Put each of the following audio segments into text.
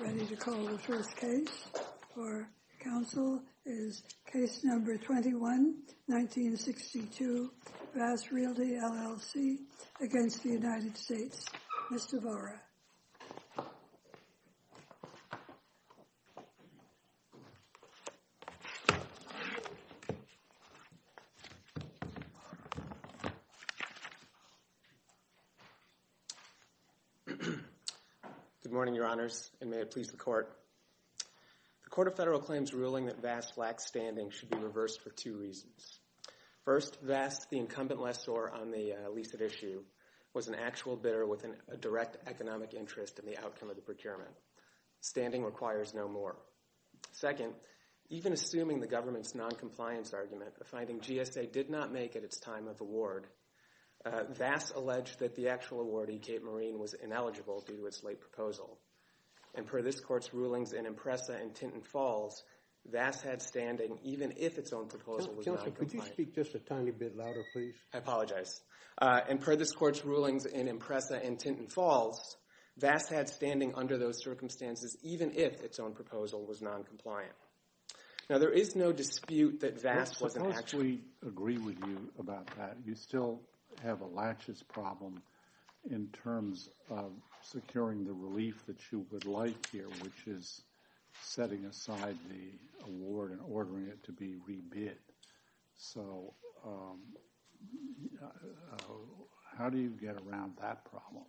Ready to call the first case for counsel is case number 21-1962, VAS Realty, LLC, against the United States. Mr. Vora. Good morning, Your Honors, and may it please the Court. The Court of Federal Claims ruling that VAS lacks standing should be reversed for two reasons. First, VAS, the incumbent lessor on the lease at issue, was an actual bidder with a direct economic interest in the outcome of the procurement. Standing requires no more. Second, even assuming the government's noncompliance argument, a finding GSA did not make at its time of award, VAS alleged that the actual awardee, Kate Marine, was ineligible due to its late proposal. And per this Court's rulings in Impreza and Tinton Falls, VAS had standing even if its own proposal was not compliant. Could you speak just a tiny bit louder, please? I apologize. And per this Court's rulings in Impreza and Tinton Falls, VAS had standing under those circumstances even if its own proposal was noncompliant. Now, there is no dispute that VAS wasn't actually agree with you about that. You still have a laches problem in terms of securing the relief that you would like here, which is setting aside the award and ordering it to be rebid. So how do you get around that problem?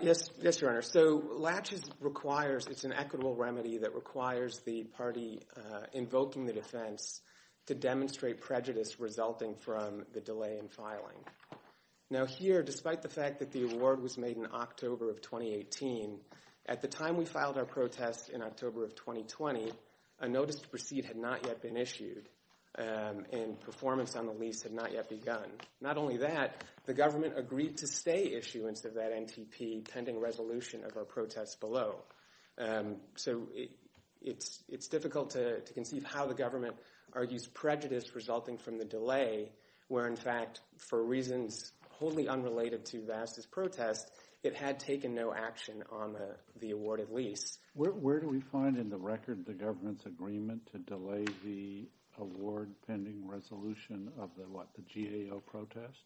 Yes, Your Honor. So laches requires, it's an equitable remedy that requires the party invoking the defense to demonstrate prejudice resulting from the delay in filing. Now here, despite the fact that the award was made in October of 2018, at the time we filed our protest in October of 2020, a notice to proceed had not yet been issued and performance on the lease had not yet begun. Not only that, the government agreed to stay issuance of that NTP pending resolution of our protest below. So it's difficult to conceive how the government argues prejudice resulting from the delay where, in fact, for reasons wholly unrelated to VAS' protest, it had taken no action on the awarded lease. Where do we find in the record the government's agreement to delay the award pending resolution of the GAO protest?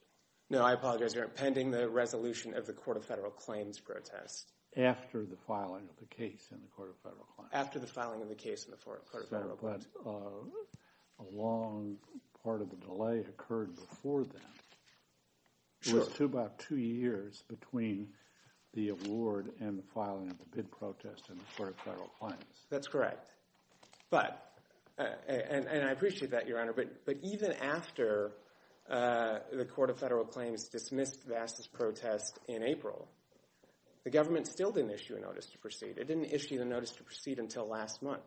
No, I apologize, Your Honor. Pending the resolution of the Court of Federal Claims protest. After the filing of the case in the Court of Federal Claims. After the filing of the case in the Court of Federal Claims. But a long part of the delay occurred before that. It was about two years between the award and the filing of the bid protest in the Court of Federal Claims. That's correct. But, and I appreciate that, Your Honor, but even after the Court of Federal Claims dismissed VAS' protest in April, the government still didn't issue a notice to proceed. It didn't issue the notice to proceed until last month.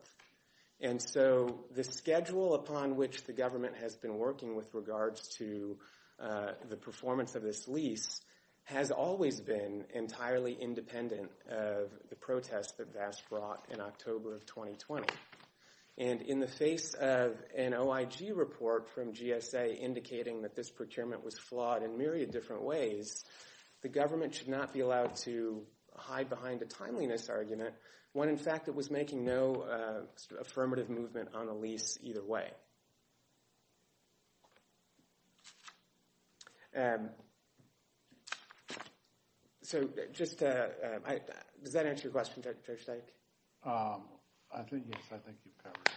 And so the schedule upon which the government has been working with regards to the performance of this lease has always been entirely independent of the protests that VAS brought in October of 2020. And in the face of an OIG report from GSA indicating that this procurement was flawed in myriad different ways, the government should not be allowed to hide behind a timeliness argument when, in fact, it was making no affirmative movement on a lease either way. So just, does that answer your question, Judge Dyke? I think, yes, I think you've covered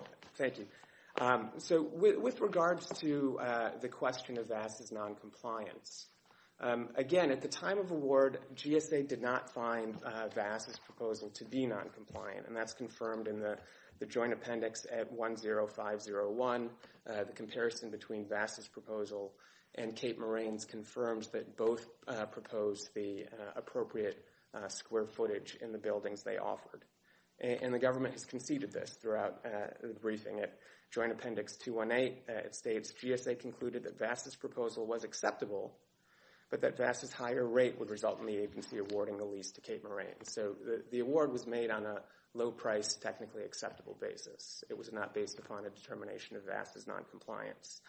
it. Thank you. So with regards to the question of VAS' noncompliance, again, at the time of award, GSA did not find VAS' proposal to be noncompliant. And that's confirmed in the joint appendix at 10501. The comparison between VAS' proposal and Cape Moraine's confirms that both proposed the appropriate square footage in the buildings they offered. And the government has conceded this throughout the briefing. At joint appendix 218, it states, GSA concluded that VAS' proposal was acceptable, but that VAS' higher rate would result in the agency awarding the lease to Cape Moraine. So the award was made on a low-priced, technically acceptable basis. It was not based upon a determination of VAS' noncompliance.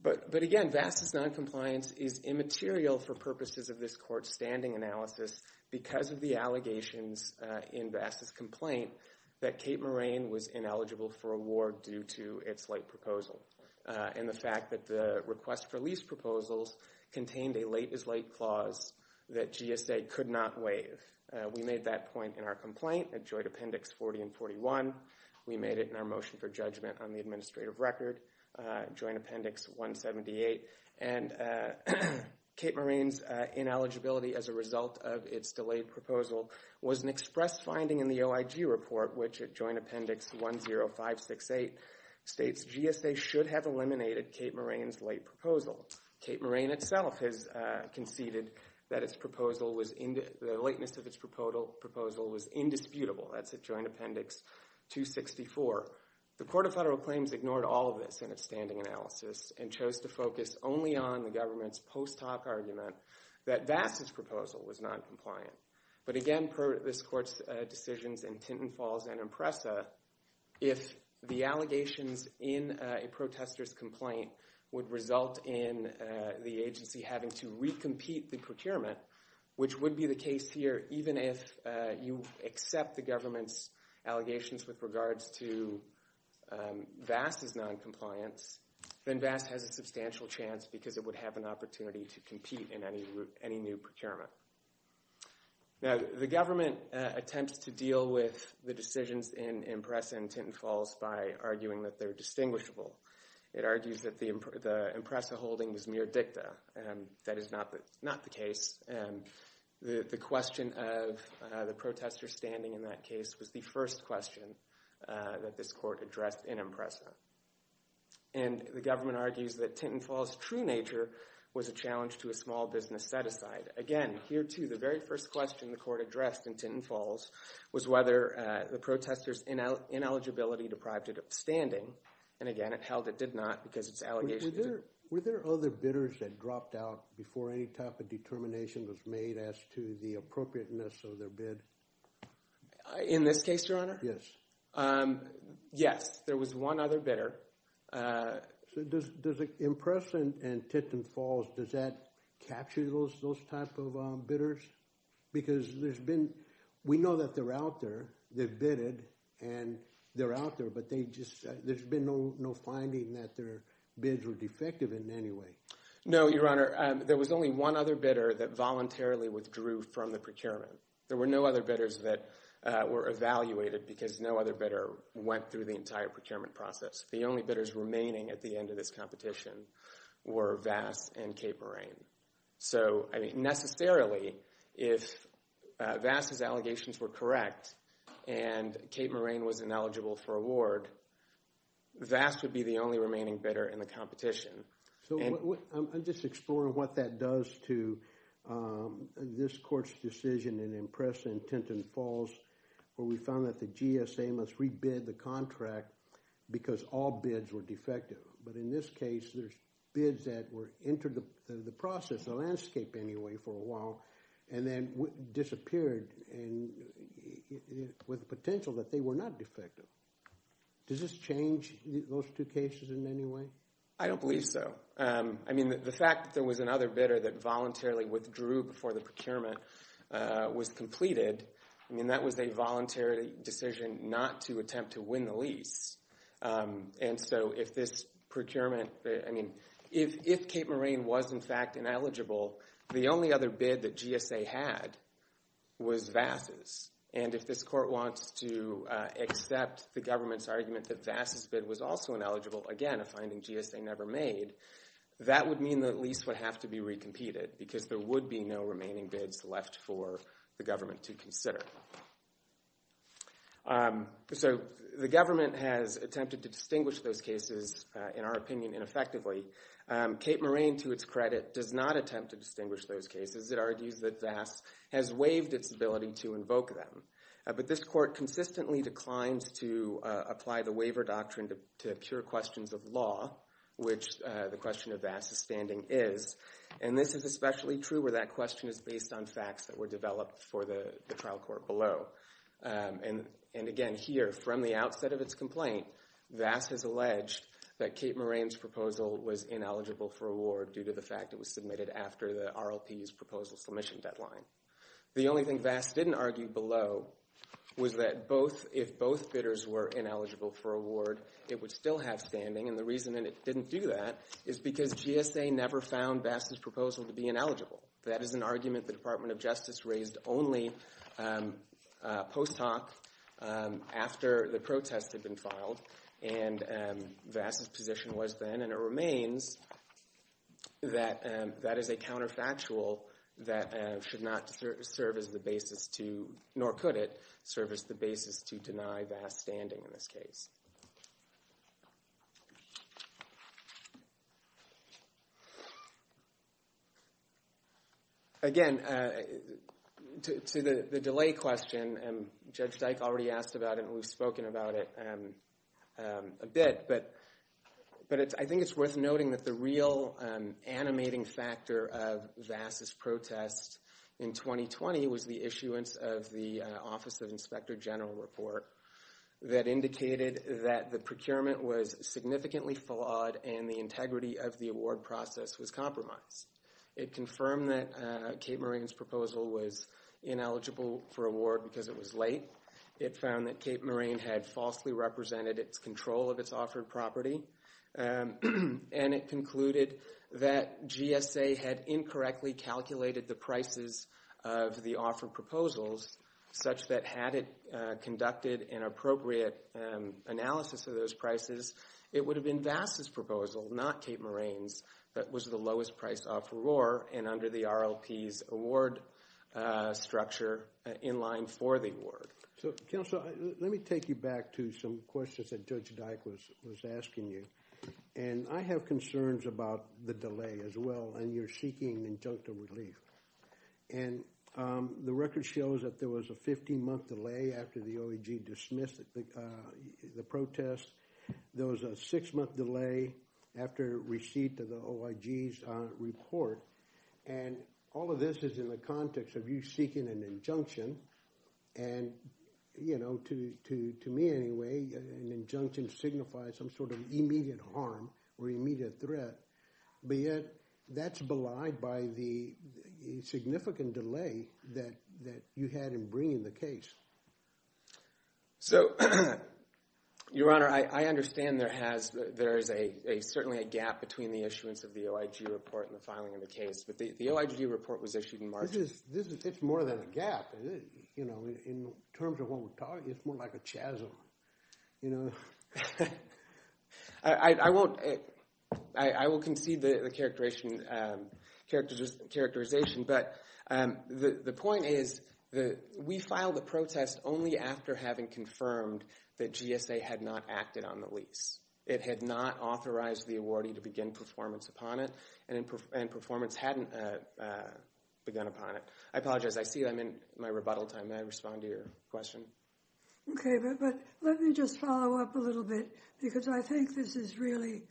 But again, VAS' noncompliance is immaterial for purposes of this court's standing analysis because of the allegations in VAS' complaint that Cape Moraine was ineligible for award due to its late proposal. And the fact that the request for lease proposals contained a late-as-late clause that GSA could not waive. We made that point in our complaint at joint appendix 40 and 41. We made it in our motion for judgment on the administrative record, joint appendix 178. And Cape Moraine's ineligibility as a result of its delayed proposal was an express finding in the OIG report, which at joint appendix 10568 states GSA should have eliminated Cape Moraine's late proposal. Cape Moraine itself has conceded that the lateness of its proposal was indisputable. That's at joint appendix 264. The Court of Federal Claims ignored all of this in its standing analysis and chose to focus only on the government's post hoc argument that VAS' proposal was noncompliant. But again, per this court's decisions in Tintin Falls and Impreza, if the allegations in a protester's complaint would result in the agency having to recompete the procurement, which would be the case here even if you accept the government's allegations with regards to VAS' noncompliance, then VAS has a substantial chance because it would have an opportunity to compete in any new procurement. Now, the government attempts to deal with the decisions in Impreza and Tintin Falls by arguing that they're distinguishable. It argues that the Impreza holding was mere dicta, and that is not the case. The question of the protester's standing in that case was the first question that this court addressed in Impreza. And the government argues that Tintin Falls' true nature was a challenge to a small business set-aside. Again, here too, the very first question the court addressed in Tintin Falls was whether the protester's ineligibility deprived it of standing. And again, it held it did not because its allegations— Were there other bidders that dropped out before any type of determination was made as to the appropriateness of their bid? In this case, Your Honor? Yes. Yes, there was one other bidder. So does Impreza and Tintin Falls, does that capture those type of bidders? Because there's been—we know that they're out there. They've bidded, and they're out there, but there's been no finding that their bids were defective in any way. No, Your Honor. There was only one other bidder that voluntarily withdrew from the procurement. There were no other bidders that were evaluated because no other bidder went through the entire procurement process. The only bidders remaining at the end of this competition were Vass and Cape Moraine. So, I mean, necessarily, if Vass' allegations were correct and Cape Moraine was ineligible for award, Vass would be the only remaining bidder in the competition. So I'm just exploring what that does to this court's decision in Impreza and Tintin Falls where we found that the GSA must re-bid the contract because all bids were defective. But in this case, there's bids that were into the process, the landscape anyway, for a while, and then disappeared with the potential that they were not defective. Does this change those two cases in any way? I don't believe so. I mean, the fact that there was another bidder that voluntarily withdrew before the procurement was completed, I mean, that was a voluntary decision not to attempt to win the lease. And so if this procurement, I mean, if Cape Moraine was, in fact, ineligible, the only other bid that GSA had was Vass'. And if this court wants to accept the government's argument that Vass' bid was also ineligible, again, a finding GSA never made, that would mean the lease would have to be re-competed because there would be no remaining bids left for the government to consider. So the government has attempted to distinguish those cases, in our opinion, ineffectively. Cape Moraine, to its credit, does not attempt to distinguish those cases. It argues that Vass' has waived its ability to invoke them. But this court consistently declines to apply the waiver doctrine to cure questions of law, which the question of Vass' standing is. And this is especially true where that question is based on facts that were developed for the trial court below. And, again, here, from the outset of its complaint, Vass' has alleged that Cape Moraine's proposal was ineligible for award due to the fact it was submitted after the RLP's proposal submission deadline. The only thing Vass' didn't argue below was that if both bidders were ineligible for award, it would still have standing. And the reason it didn't do that is because GSA never found Vass' proposal to be ineligible. That is an argument the Department of Justice raised only post hoc after the protest had been filed. And Vass' position was then, and it remains, that that is a counterfactual that should not serve as the basis to, nor could it serve as the basis to deny Vass' standing in this case. Again, to the delay question, Judge Dyke already asked about it and we've spoken about it a bit. But I think it's worth noting that the real animating factor of Vass' protest in 2020 was the issuance of the Office of Inspector General report that indicated that the procurement was significantly flawed and the integrity of the award process was compromised. It confirmed that Cape Moraine's proposal was ineligible for award because it was late. It found that Cape Moraine had falsely represented its control of its offered property. And it concluded that GSA had incorrectly calculated the prices of the offered proposals, such that had it conducted an appropriate analysis of those prices, it would have been Vass' proposal, not Cape Moraine's, that was the lowest price offeror and under the RLP's award structure in line for the award. So, counsel, let me take you back to some questions that Judge Dyke was asking you. And I have concerns about the delay as well, and you're seeking injunctive relief. And the record shows that there was a 15-month delay after the OEG dismissed the protest. There was a six-month delay after receipt of the OEG's report. And all of this is in the context of you seeking an injunction. And, you know, to me anyway, an injunction signifies some sort of immediate harm or immediate threat. But yet that's belied by the significant delay that you had in bringing the case. So, Your Honor, I understand there is certainly a gap between the issuance of the OEG report and the filing of the case. But the OEG report was issued in March. This is more than a gap, you know, in terms of what we're talking. It's more like a chasm, you know. I won't. I will concede the characterization. But the point is that we filed the protest only after having confirmed that GSA had not acted on the lease. It had not authorized the awardee to begin performance upon it, and performance hadn't begun upon it. I apologize. I see I'm in my rebuttal time. May I respond to your question? Okay, but let me just follow up a little bit, because I think this is really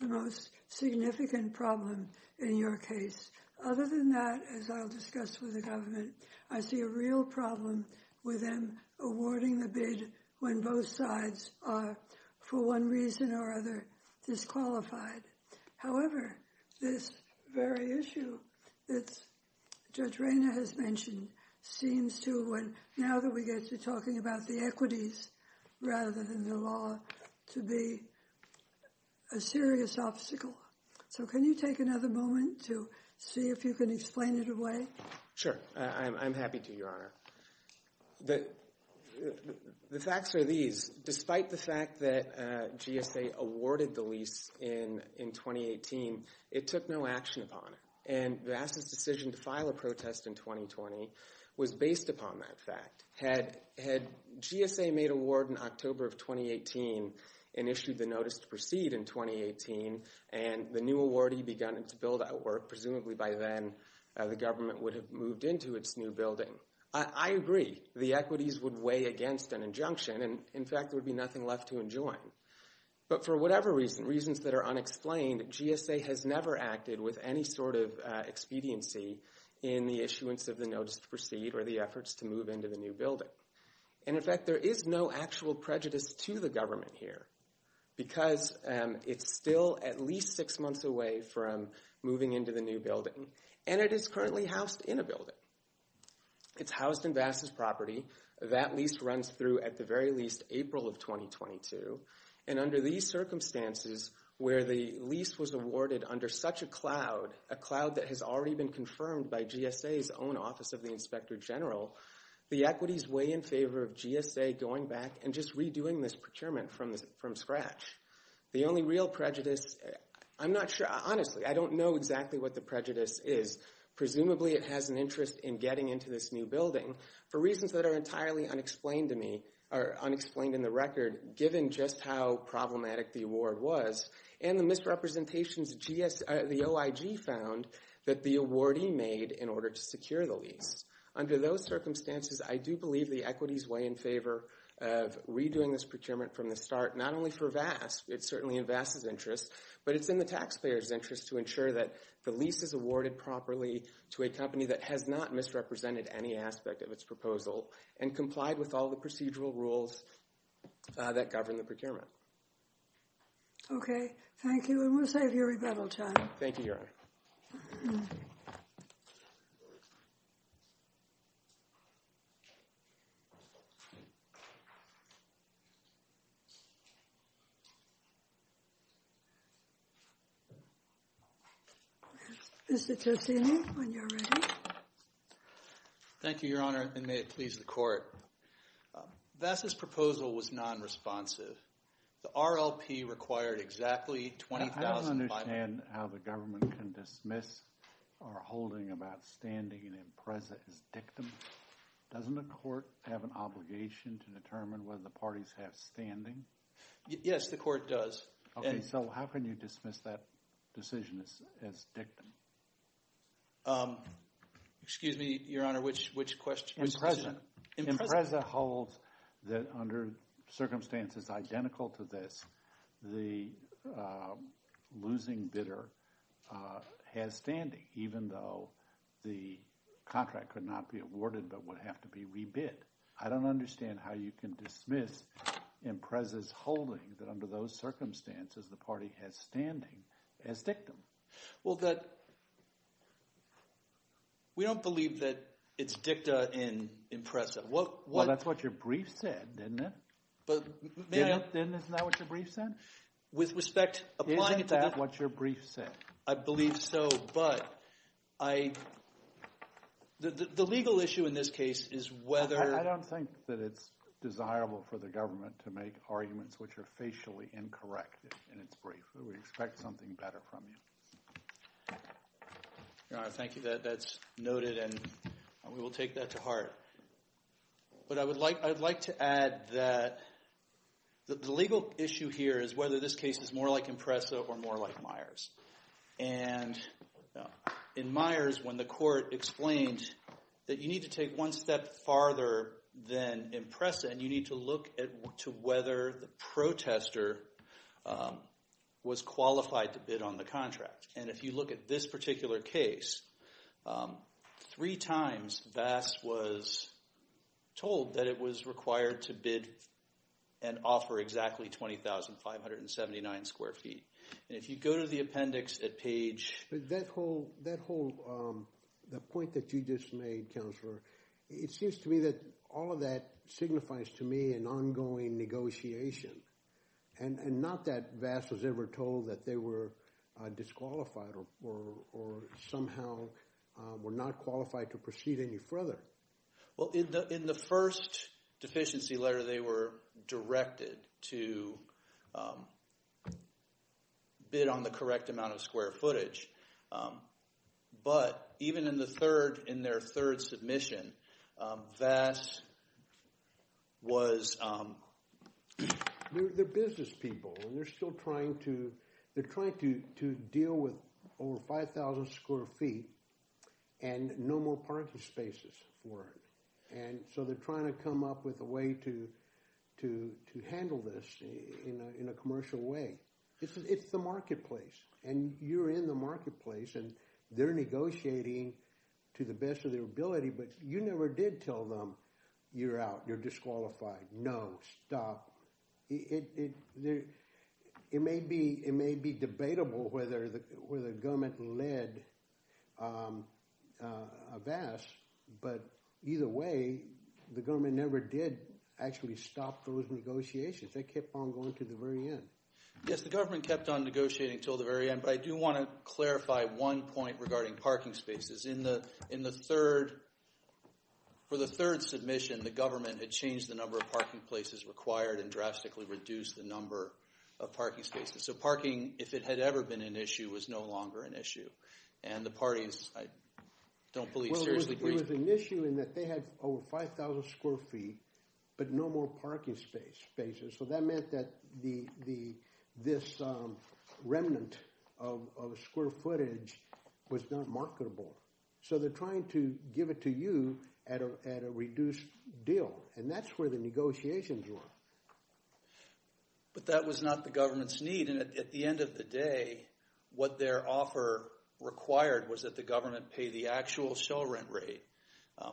the most significant problem in your case. Other than that, as I'll discuss with the government, I see a real problem with them awarding the bid when both sides are, for one reason or other, disqualified. However, this very issue that Judge Rayner has mentioned seems to, now that we get to talking about the equities rather than the law, to be a serious obstacle. So can you take another moment to see if you can explain it away? Sure. I'm happy to, Your Honor. The facts are these. Despite the fact that GSA awarded the lease in 2018, it took no action upon it. And Vassa's decision to file a protest in 2020 was based upon that fact. Had GSA made award in October of 2018 and issued the notice to proceed in 2018, and the new awardee begun its build-out work, presumably by then the government would have moved into its new building, I agree. The equities would weigh against an injunction, and in fact there would be nothing left to enjoin. But for whatever reason, reasons that are unexplained, GSA has never acted with any sort of expediency in the issuance of the notice to proceed or the efforts to move into the new building. And in fact, there is no actual prejudice to the government here, because it's still at least six months away from moving into the new building. And it is currently housed in a building. It's housed in Vassa's property. That lease runs through at the very least April of 2022. And under these circumstances, where the lease was awarded under such a cloud, a cloud that has already been confirmed by GSA's own Office of the Inspector General, the equities weigh in favor of GSA going back and just redoing this procurement from scratch. The only real prejudice, I'm not sure, honestly, I don't know exactly what the prejudice is. Presumably it has an interest in getting into this new building. For reasons that are entirely unexplained to me, or unexplained in the record, given just how problematic the award was, and the misrepresentations the OIG found that the awardee made in order to secure the lease. Under those circumstances, I do believe the equities weigh in favor of redoing this procurement from the start, not only for Vassa, it's certainly in Vassa's interest, but it's in the taxpayer's interest to ensure that the lease is awarded properly to a company that has not misrepresented any aspect of its proposal and complied with all the procedural rules that govern the procurement. Okay, thank you. And we'll save you rebuttal time. Thank you, Your Honor. Mr. Tosini, when you're ready. Thank you, Your Honor, and may it please the Court. Vassa's proposal was non-responsive. The RLP required exactly $20,000. I don't understand how the government can dismiss or holding of outstanding and impressive as dictum. Doesn't the Court have an obligation to determine whether the parties have standing? Yes, the Court does. Okay, so how can you dismiss that decision as dictum? Excuse me, Your Honor, which decision? Impreza holds that under circumstances identical to this, the losing bidder has standing, even though the contract could not be awarded but would have to be rebid. I don't understand how you can dismiss Impreza's holding that under those circumstances the party has standing as dictum. Well, we don't believe that it's dicta in Impreza. Well, that's what your brief said, isn't it? Isn't that what your brief said? With respect, applying it to that. Isn't that what your brief said? I believe so, but the legal issue in this case is whether— I don't think that it's desirable for the government to make arguments which are facially incorrect in its brief. We expect something better from you. Your Honor, thank you. That's noted, and we will take that to heart. But I would like to add that the legal issue here is whether this case is more like Impreza or more like Myers. And in Myers, when the court explained that you need to take one step farther than Impreza and you need to look to whether the protester was qualified to bid on the contract. And if you look at this particular case, three times Vass was told that it was required to bid and offer exactly 20,579 square feet. And if you go to the appendix at page— That whole—the point that you just made, Counselor, it seems to me that all of that signifies to me an ongoing negotiation and not that Vass was ever told that they were disqualified or somehow were not qualified to proceed any further. Well, in the first deficiency letter, they were directed to bid on the correct amount of square footage. But even in the third—in their third submission, Vass was— They're business people, and they're still trying to deal with over 5,000 square feet and no more parking spaces for it. And so they're trying to come up with a way to handle this in a commercial way. It's the marketplace, and you're in the marketplace, and they're negotiating to the best of their ability. But you never did tell them, you're out, you're disqualified. No, stop. It may be debatable whether the government led Vass, but either way, the government never did actually stop those negotiations. They kept on going to the very end. Yes, the government kept on negotiating until the very end, but I do want to clarify one point regarding parking spaces. In the third—for the third submission, the government had changed the number of parking places required and drastically reduced the number of parking spaces. So parking, if it had ever been an issue, was no longer an issue. And the parties, I don't believe, seriously— Well, there was an issue in that they had over 5,000 square feet but no more parking spaces. So that meant that this remnant of square footage was not marketable. So they're trying to give it to you at a reduced deal, and that's where the negotiations were. But that was not the government's need. And at the end of the day, what their offer required was that the government pay the actual shell rent rate,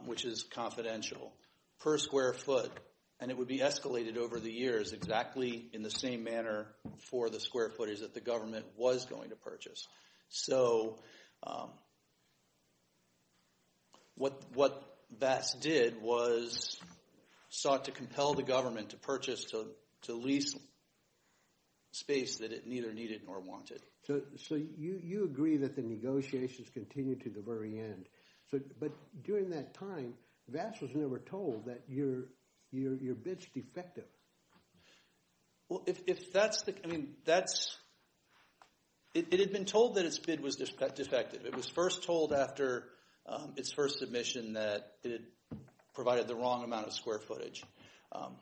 which is confidential, per square foot. And it would be escalated over the years exactly in the same manner for the square footage that the government was going to purchase. So what Vass did was sought to compel the government to purchase to lease space that it neither needed nor wanted. So you agree that the negotiations continued to the very end. But during that time, Vass was never told that your bid's defective. Well, if that's the—I mean, that's—it had been told that its bid was defective. It was first told after its first submission that it provided the wrong amount of square footage.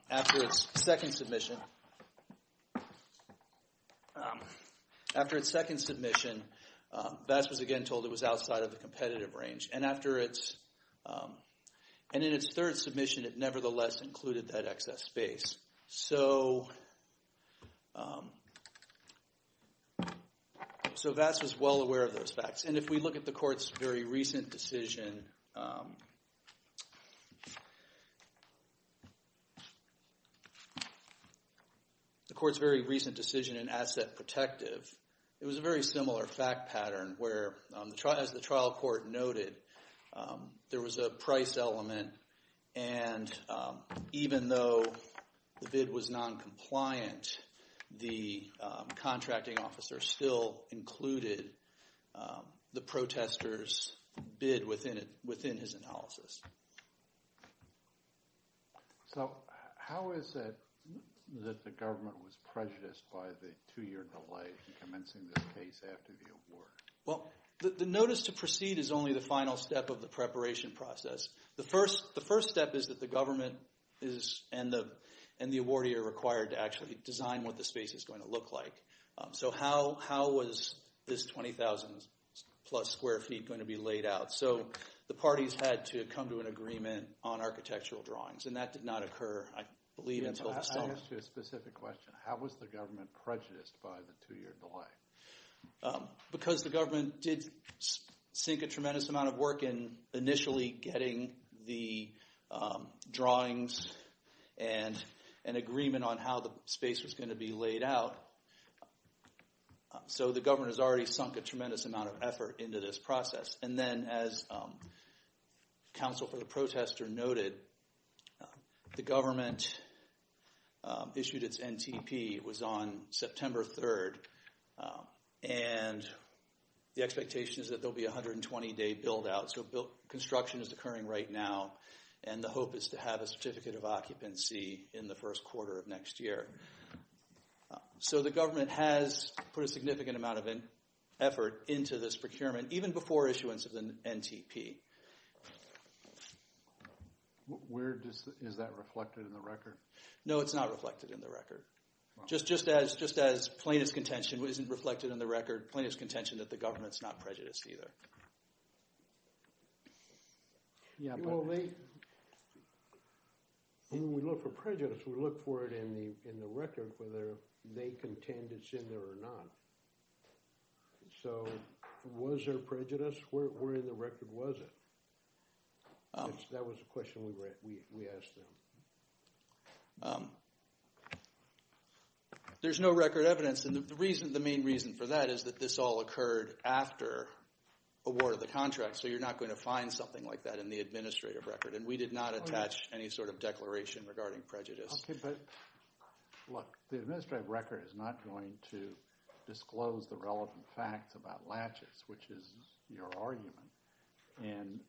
After its second submission, Vass was again told it was outside of the competitive range. And after its—and in its third submission, it nevertheless included that excess space. So Vass was well aware of those facts. And if we look at the court's very recent decision—the court's very recent decision in asset protective, it was a very similar fact pattern where, as the trial court noted, there was a price element. And even though the bid was noncompliant, the contracting officer still included the protester's bid within his analysis. So how is it that the government was prejudiced by the two-year delay in commencing this case after the award? Well, the notice to proceed is only the final step of the preparation process. The first step is that the government is—and the awardee are required to actually design what the space is going to look like. So how was this 20,000-plus square feet going to be laid out? So the parties had to come to an agreement on architectural drawings, and that did not occur, I believe, until— I'm going to ask you a specific question. How was the government prejudiced by the two-year delay? Because the government did sink a tremendous amount of work in initially getting the drawings and an agreement on how the space was going to be laid out, so the government has already sunk a tremendous amount of effort into this process. And then, as counsel for the protester noted, the government issued its NTP. It was on September 3rd, and the expectation is that there will be a 120-day build-out. So construction is occurring right now, and the hope is to have a certificate of occupancy in the first quarter of next year. So the government has put a significant amount of effort into this procurement, even before issuance of the NTP. Is that reflected in the record? No, it's not reflected in the record. Just as plain as contention isn't reflected in the record, plain as contention that the government's not prejudiced either. When we look for prejudice, we look for it in the record, whether they contend it's in there or not. So was there prejudice? Where in the record was it? That was the question we asked them. There's no record evidence. And the main reason for that is that this all occurred after award of the contract, so you're not going to find something like that in the administrative record. And we did not attach any sort of declaration regarding prejudice. Okay, but look, the administrative record is not going to disclose the relevant facts about Latches, which is your argument. And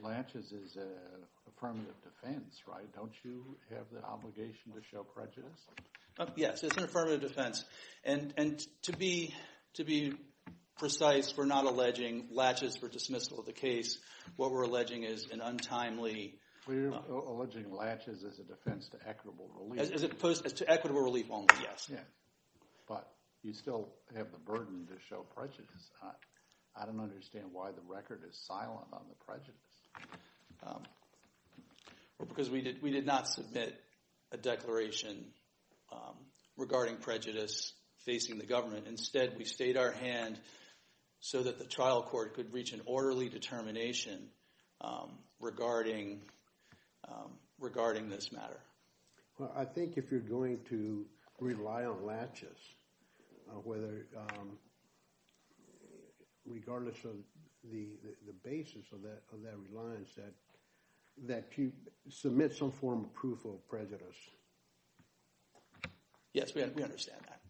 Latches is an affirmative defense, right? Don't you have the obligation to show prejudice? Yes, it's an affirmative defense. And to be precise, we're not alleging Latches for dismissal of the case. What we're alleging is an untimely – We're alleging Latches as a defense to equitable relief. As opposed to equitable relief only, yes. But you still have the burden to show prejudice. I don't understand why the record is silent on the prejudice. Because we did not submit a declaration regarding prejudice facing the government. Instead, we stayed our hand so that the trial court could reach an orderly determination regarding this matter. Well, I think if you're going to rely on Latches, whether – regardless of the basis of that reliance, that you submit some form of proof of prejudice. Yes, we understand that.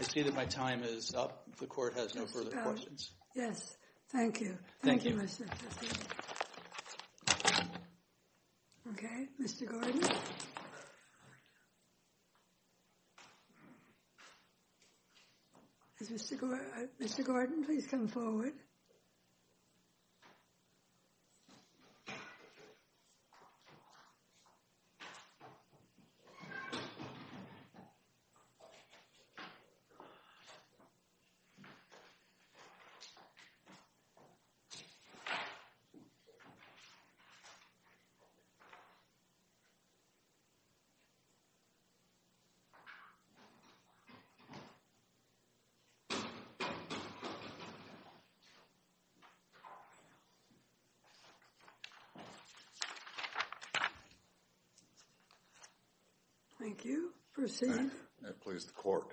I see that my time is up. The court has no further questions. Yes, thank you. Thank you, Mr. – Okay, Mr. Gordon. Is Mr. Gordon – Mr. Gordon, please come forward. Thank you. Proceed. May it please the court.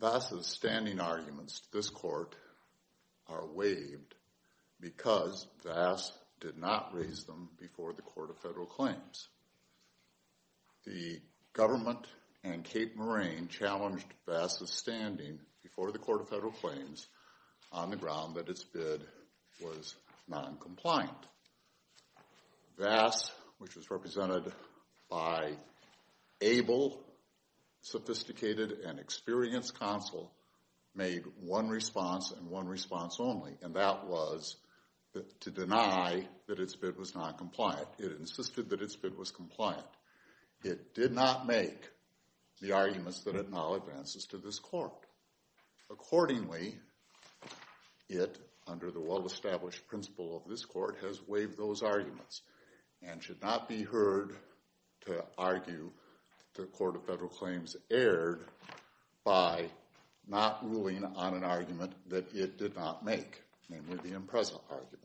Vass's standing arguments to this court are waived because Vass did not raise them before the Court of Federal Claims. The government and Cape Moraine challenged Vass's standing before the Court of Federal Claims on the ground that its bid was noncompliant. Vass, which was represented by able, sophisticated, and experienced counsel, made one response and one response only, and that was to deny that its bid was noncompliant. It insisted that its bid was compliant. It did not make the arguments that it now advances to this court. Accordingly, it, under the well-established principle of this court, has waived those arguments and should not be heard to argue the Court of Federal Claims erred by not ruling on an argument that it did not make, namely the Impreza argument.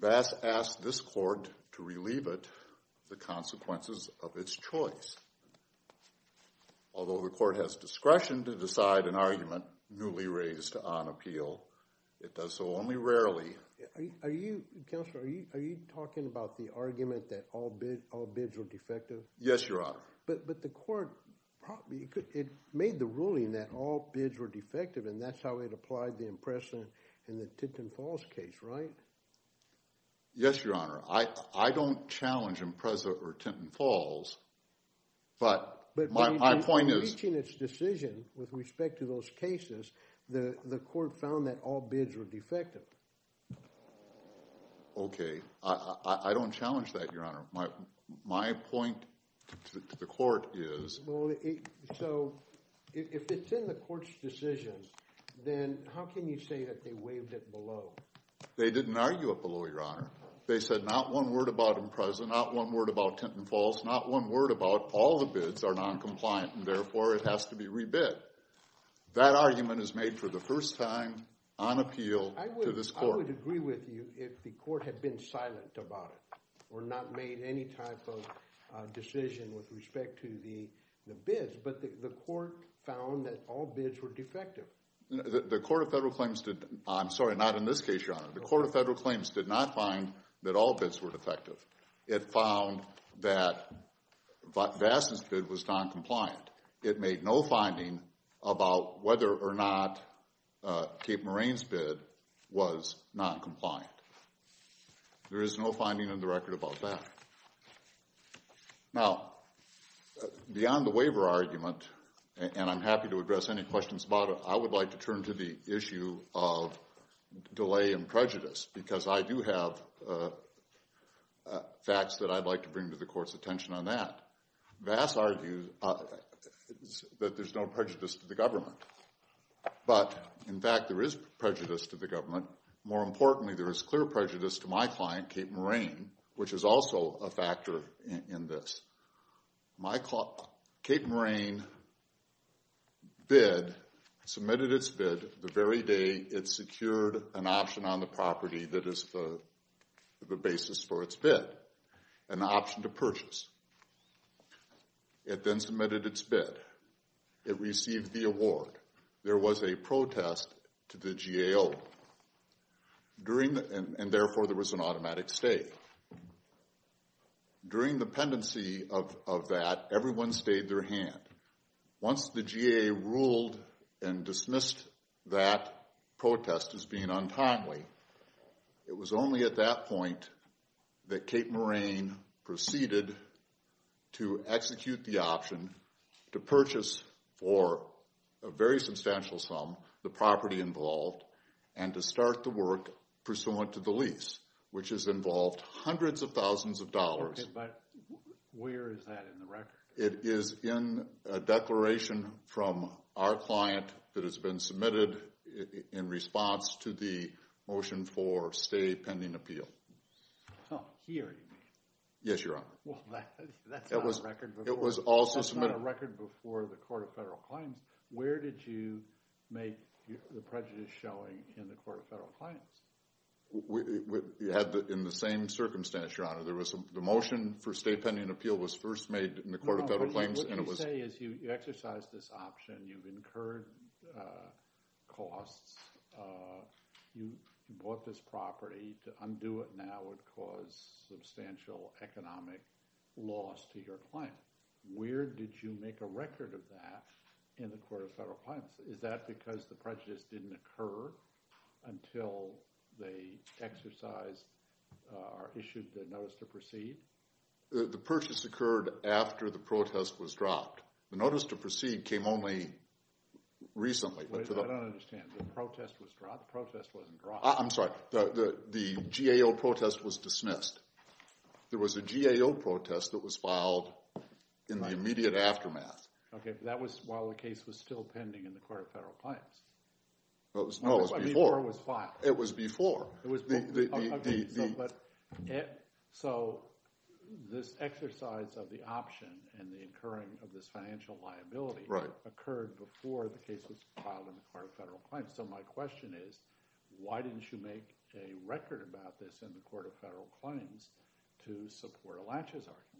Vass asked this court to relieve it the consequences of its choice. Although the court has discretion to decide an argument newly raised on appeal, it does so only rarely. Are you talking about the argument that all bids were defective? Yes, Your Honor. But the court made the ruling that all bids were defective, and that's how it applied the Impreza and the Tinton Falls case, right? Yes, Your Honor. I don't challenge Impreza or Tinton Falls, but my point is— But in reaching its decision with respect to those cases, the court found that all bids were defective. Okay. I don't challenge that, Your Honor. My point to the court is— So if it's in the court's decision, then how can you say that they waived it below? They didn't argue it below, Your Honor. They said not one word about Impreza, not one word about Tinton Falls, not one word about all the bids are noncompliant, and therefore it has to be rebid. That argument is made for the first time on appeal to this court. I would agree with you if the court had been silent about it or not made any type of decision with respect to the bids. But the court found that all bids were defective. The Court of Federal Claims did—I'm sorry, not in this case, Your Honor. The Court of Federal Claims did not find that all bids were defective. It found that Vassa's bid was noncompliant. It made no finding about whether or not Cape Moraine's bid was noncompliant. There is no finding in the record about that. Now, beyond the waiver argument, and I'm happy to address any questions about it, I would like to turn to the issue of delay in prejudice because I do have facts that I'd like to bring to the court's attention on that. Vassa argues that there's no prejudice to the government. But, in fact, there is prejudice to the government. More importantly, there is clear prejudice to my client, Cape Moraine, which is also a factor in this. Cape Moraine submitted its bid the very day it secured an option on the property that is the basis for its bid, an option to purchase. It then submitted its bid. It received the award. There was a protest to the GAO, and, therefore, there was an automatic stay. During the pendency of that, everyone stayed their hand. Once the GAO ruled and dismissed that protest as being untimely, it was only at that point that Cape Moraine proceeded to execute the option to purchase for a very substantial sum the property involved and to start the work pursuant to the lease, which has involved hundreds of thousands of dollars. Okay, but where is that in the record? It is in a declaration from our client that has been submitted in response to the motion for stay pending appeal. Oh, here, you mean? Yes, Your Honor. Well, that's not a record before the Court of Federal Claims. Where did you make the prejudice showing in the Court of Federal Claims? In the same circumstance, Your Honor. The motion for stay pending appeal was first made in the Court of Federal Claims. What you say is you exercised this option. You've incurred costs. You bought this property. To undo it now would cause substantial economic loss to your client. Where did you make a record of that in the Court of Federal Claims? Is that because the prejudice didn't occur until they exercised or issued the notice to proceed? The purchase occurred after the protest was dropped. The notice to proceed came only recently. I don't understand. The protest was dropped? The protest wasn't dropped. I'm sorry. The GAO protest was dismissed. There was a GAO protest that was filed in the immediate aftermath. Okay, but that was while the case was still pending in the Court of Federal Claims. No, it was before. Before it was filed. It was before. Okay, so this exercise of the option and the incurring of this financial liability occurred before the case was filed in the Court of Federal Claims. So my question is why didn't you make a record about this in the Court of Federal Claims to support a laches argument?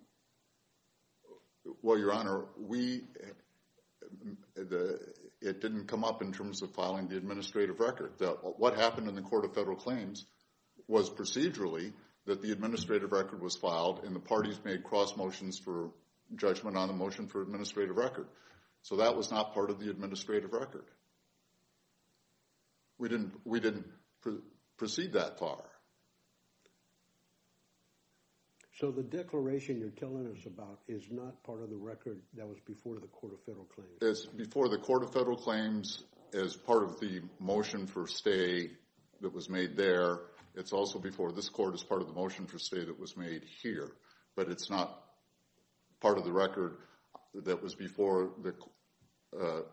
Well, Your Honor, it didn't come up in terms of filing the administrative record. What happened in the Court of Federal Claims was procedurally that the administrative record was filed, and the parties made cross motions for judgment on the motion for administrative record. So that was not part of the administrative record. We didn't proceed that far. So the declaration you're telling us about is not part of the record that was before the Court of Federal Claims. It's before the Court of Federal Claims as part of the motion for stay that was made there. It's also before this court as part of the motion for stay that was made here. But it's not part of the record that was before the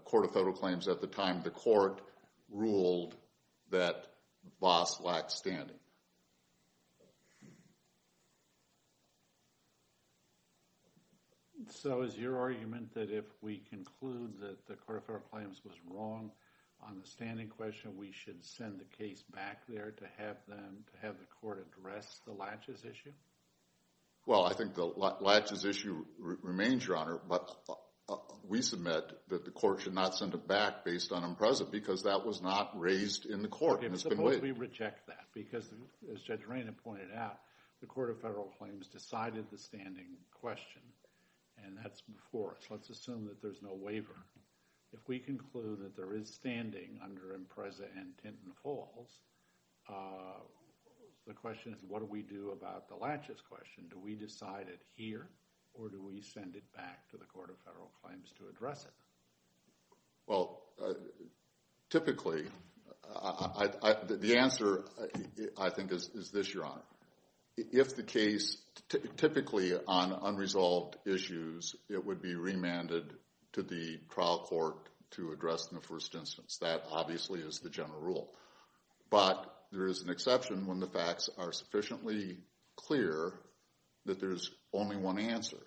Court of Federal Claims at the time the court ruled that Voss lacked standing. So is your argument that if we conclude that the Court of Federal Claims was wrong on the standing question, we should send the case back there to have the court address the laches issue? Well, I think the laches issue remains, Your Honor. But we submit that the court should not send it back based on IMPRESA because that was not raised in the court. And it's been waived. Suppose we reject that because, as Judge Reina pointed out, the Court of Federal Claims decided the standing question, and that's before us. Let's assume that there's no waiver. If we conclude that there is standing under IMPRESA and Tinton Falls, the question is, what do we do about the laches question? Do we decide it here, or do we send it back to the Court of Federal Claims to address it? Well, typically, the answer, I think, is this, Your Honor. If the case, typically on unresolved issues, it would be remanded to the trial court to address in the first instance. That obviously is the general rule. But there is an exception when the facts are sufficiently clear that there's only one answer.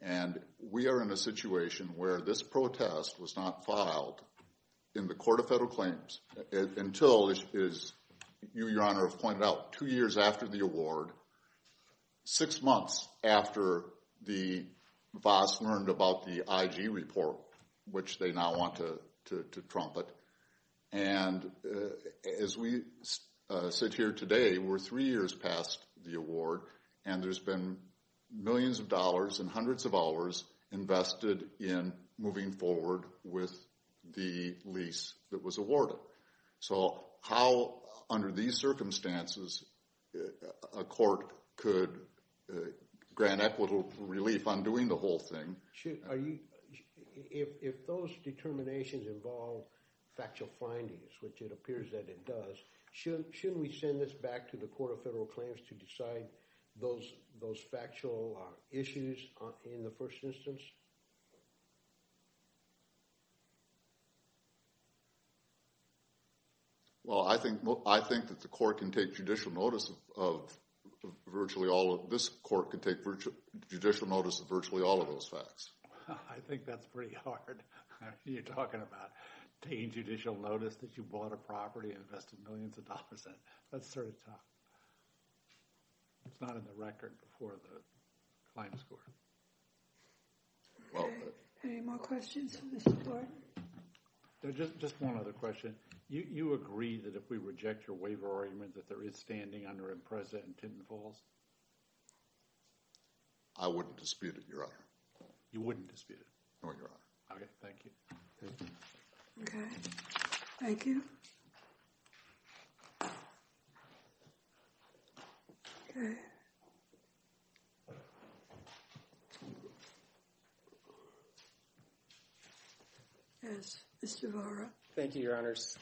And we are in a situation where this protest was not filed in the Court of Federal Claims until, as you, Your Honor, have pointed out, two years after the award, six months after the VAAS learned about the IG report, which they now want to trumpet. And as we sit here today, we're three years past the award, and there's been millions of dollars and hundreds of hours invested in moving forward with the lease that was awarded. So how, under these circumstances, a court could grant equitable relief on doing the whole thing? If those determinations involve factual findings, which it appears that it does, shouldn't we send this back to the Court of Federal Claims to decide those factual issues in the first instance? Well, I think that the court can take judicial notice of virtually all of those facts. I think that's pretty hard. You're talking about taking judicial notice that you bought a property and invested millions of dollars in. That's sort of tough. It's not in the record before the claims court. Any more questions for Mr. Thornton? Just one other question. You agree that if we reject your waiver argument that there is standing under Impreza and Tinton Falls? I wouldn't dispute it, Your Honor. You wouldn't dispute it? No, Your Honor. Okay, thank you. Okay. Thank you. Okay. Yes, Mr. Bahra. Thank you, Your Honors.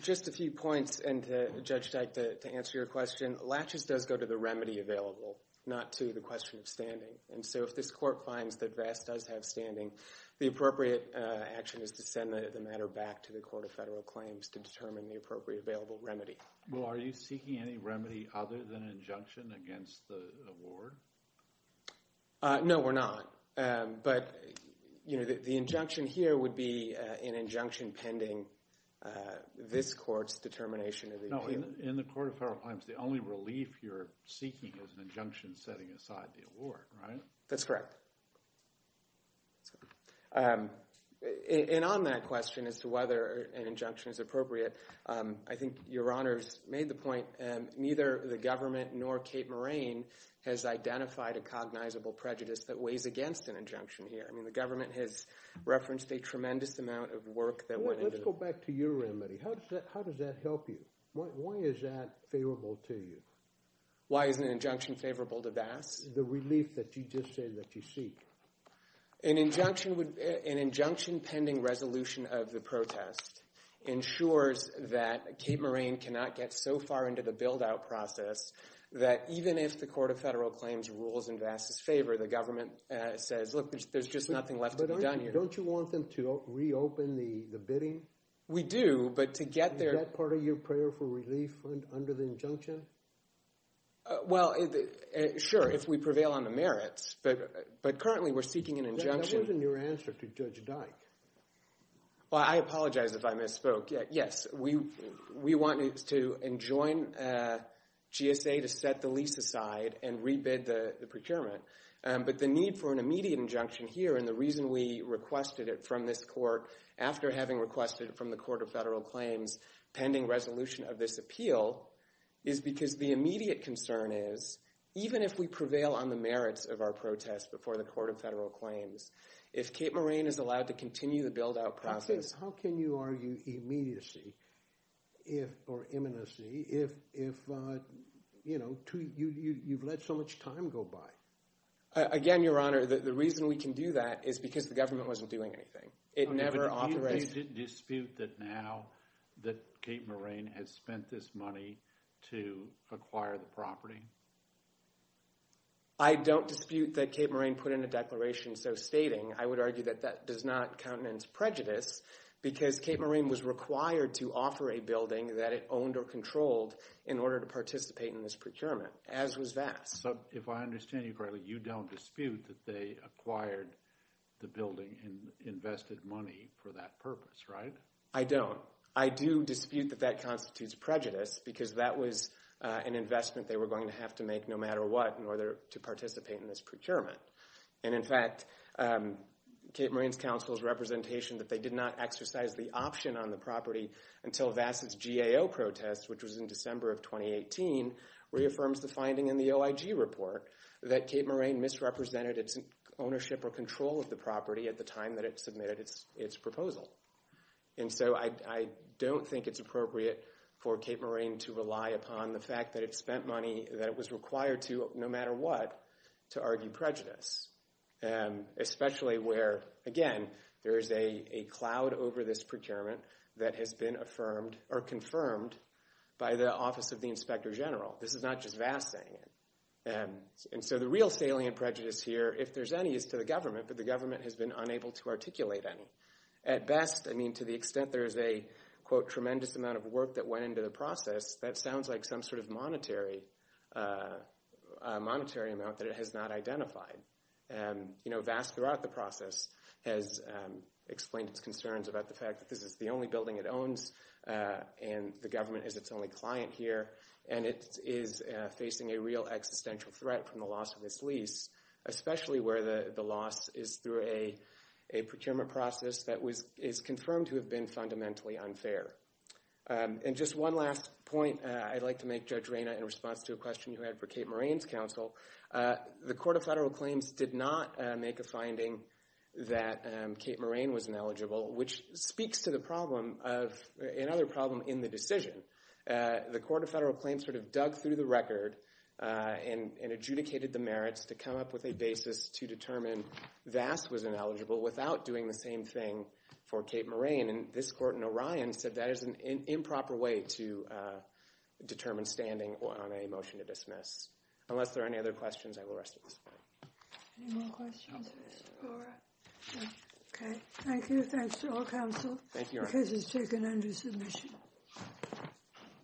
Just a few points, and to Judge Dyke, to answer your question. Latches does go to the remedy available, not to the question of standing. And so if this court finds that Vass does have standing, the appropriate action is to send the matter back to the Court of Federal Claims to determine the appropriate available remedy. Well, are you seeking any remedy other than injunction against the award? No, we're not. But, you know, the injunction here would be an injunction pending this court's determination of the appeal. No, in the Court of Federal Claims, the only relief you're seeking is an injunction setting aside the award, right? That's correct. And on that question as to whether an injunction is appropriate, I think Your Honors made the point, neither the government nor Kate Moran has identified a cognizable prejudice that weighs against an injunction here. I mean, the government has referenced a tremendous amount of work that went into it. Let's go back to your remedy. How does that help you? Why is that favorable to you? Why is an injunction favorable to Vass? The relief that you just said that you seek. An injunction pending resolution of the protest ensures that Kate Moran cannot get so far into the build-out process that even if the Court of Federal Claims rules in Vass' favor, the government says, look, there's just nothing left to be done here. But don't you want them to reopen the bidding? We do, but to get there. Is that part of your prayer for relief under the injunction? Well, sure, if we prevail on the merits. But currently we're seeking an injunction. That wasn't your answer to Judge Dyke. Well, I apologize if I misspoke. Yes, we want to enjoin GSA to set the lease aside and rebid the procurement. But the need for an immediate injunction here, and the reason we requested it from this court, after having requested it from the Court of Federal Claims pending resolution of this appeal, is because the immediate concern is, even if we prevail on the merits of our protest before the Court of Federal Claims, if Kate Moran is allowed to continue the build-out process. How can you argue immediacy, or imminency, if you've let so much time go by? Again, Your Honor, the reason we can do that is because the government wasn't doing anything. Do you dispute that now, that Kate Moran has spent this money to acquire the property? I don't dispute that Kate Moran put in a declaration so stating. I would argue that that does not countenance prejudice, because Kate Moran was required to offer a building that it owned or controlled in order to participate in this procurement, as was Vass. If I understand you correctly, you don't dispute that they acquired the building and invested money for that purpose, right? I don't. I do dispute that that constitutes prejudice, because that was an investment they were going to have to make no matter what in order to participate in this procurement. In fact, Kate Moran's counsel's representation that they did not exercise the option on the property until Vass' GAO protest, which was in December of 2018, reaffirms the finding in the OIG report that Kate Moran misrepresented its ownership or control of the property at the time that it submitted its proposal. And so I don't think it's appropriate for Kate Moran to rely upon the fact that it spent money that it was required to, no matter what, to argue prejudice. Especially where, again, there is a cloud over this procurement that has been confirmed by the Office of the Inspector General. This is not just Vass saying it. And so the real salient prejudice here, if there's any, is to the government, but the government has been unable to articulate any. At best, I mean, to the extent there is a, quote, tremendous amount of work that went into the process, that sounds like some sort of monetary amount that it has not identified. You know, Vass throughout the process has explained its concerns about the fact that this is the only building it owns, and the government is its only client here, and it is facing a real existential threat from the loss of this lease, especially where the loss is through a procurement process that is confirmed to have been fundamentally unfair. And just one last point I'd like to make, Judge Reyna, in response to a question you had for Kate Moran's counsel. The Court of Federal Claims did not make a finding that Kate Moran was ineligible, which speaks to another problem in the decision. The Court of Federal Claims sort of dug through the record and adjudicated the merits to come up with a basis to determine Vass was ineligible without doing the same thing for Kate Moran. And this court in Orion said that is an improper way to determine standing on a motion to dismiss. Unless there are any other questions, I will rest at this point. Any more questions for Mr. O'Rourke? Okay. Thank you. Thanks to all counsel. The case is taken under submission.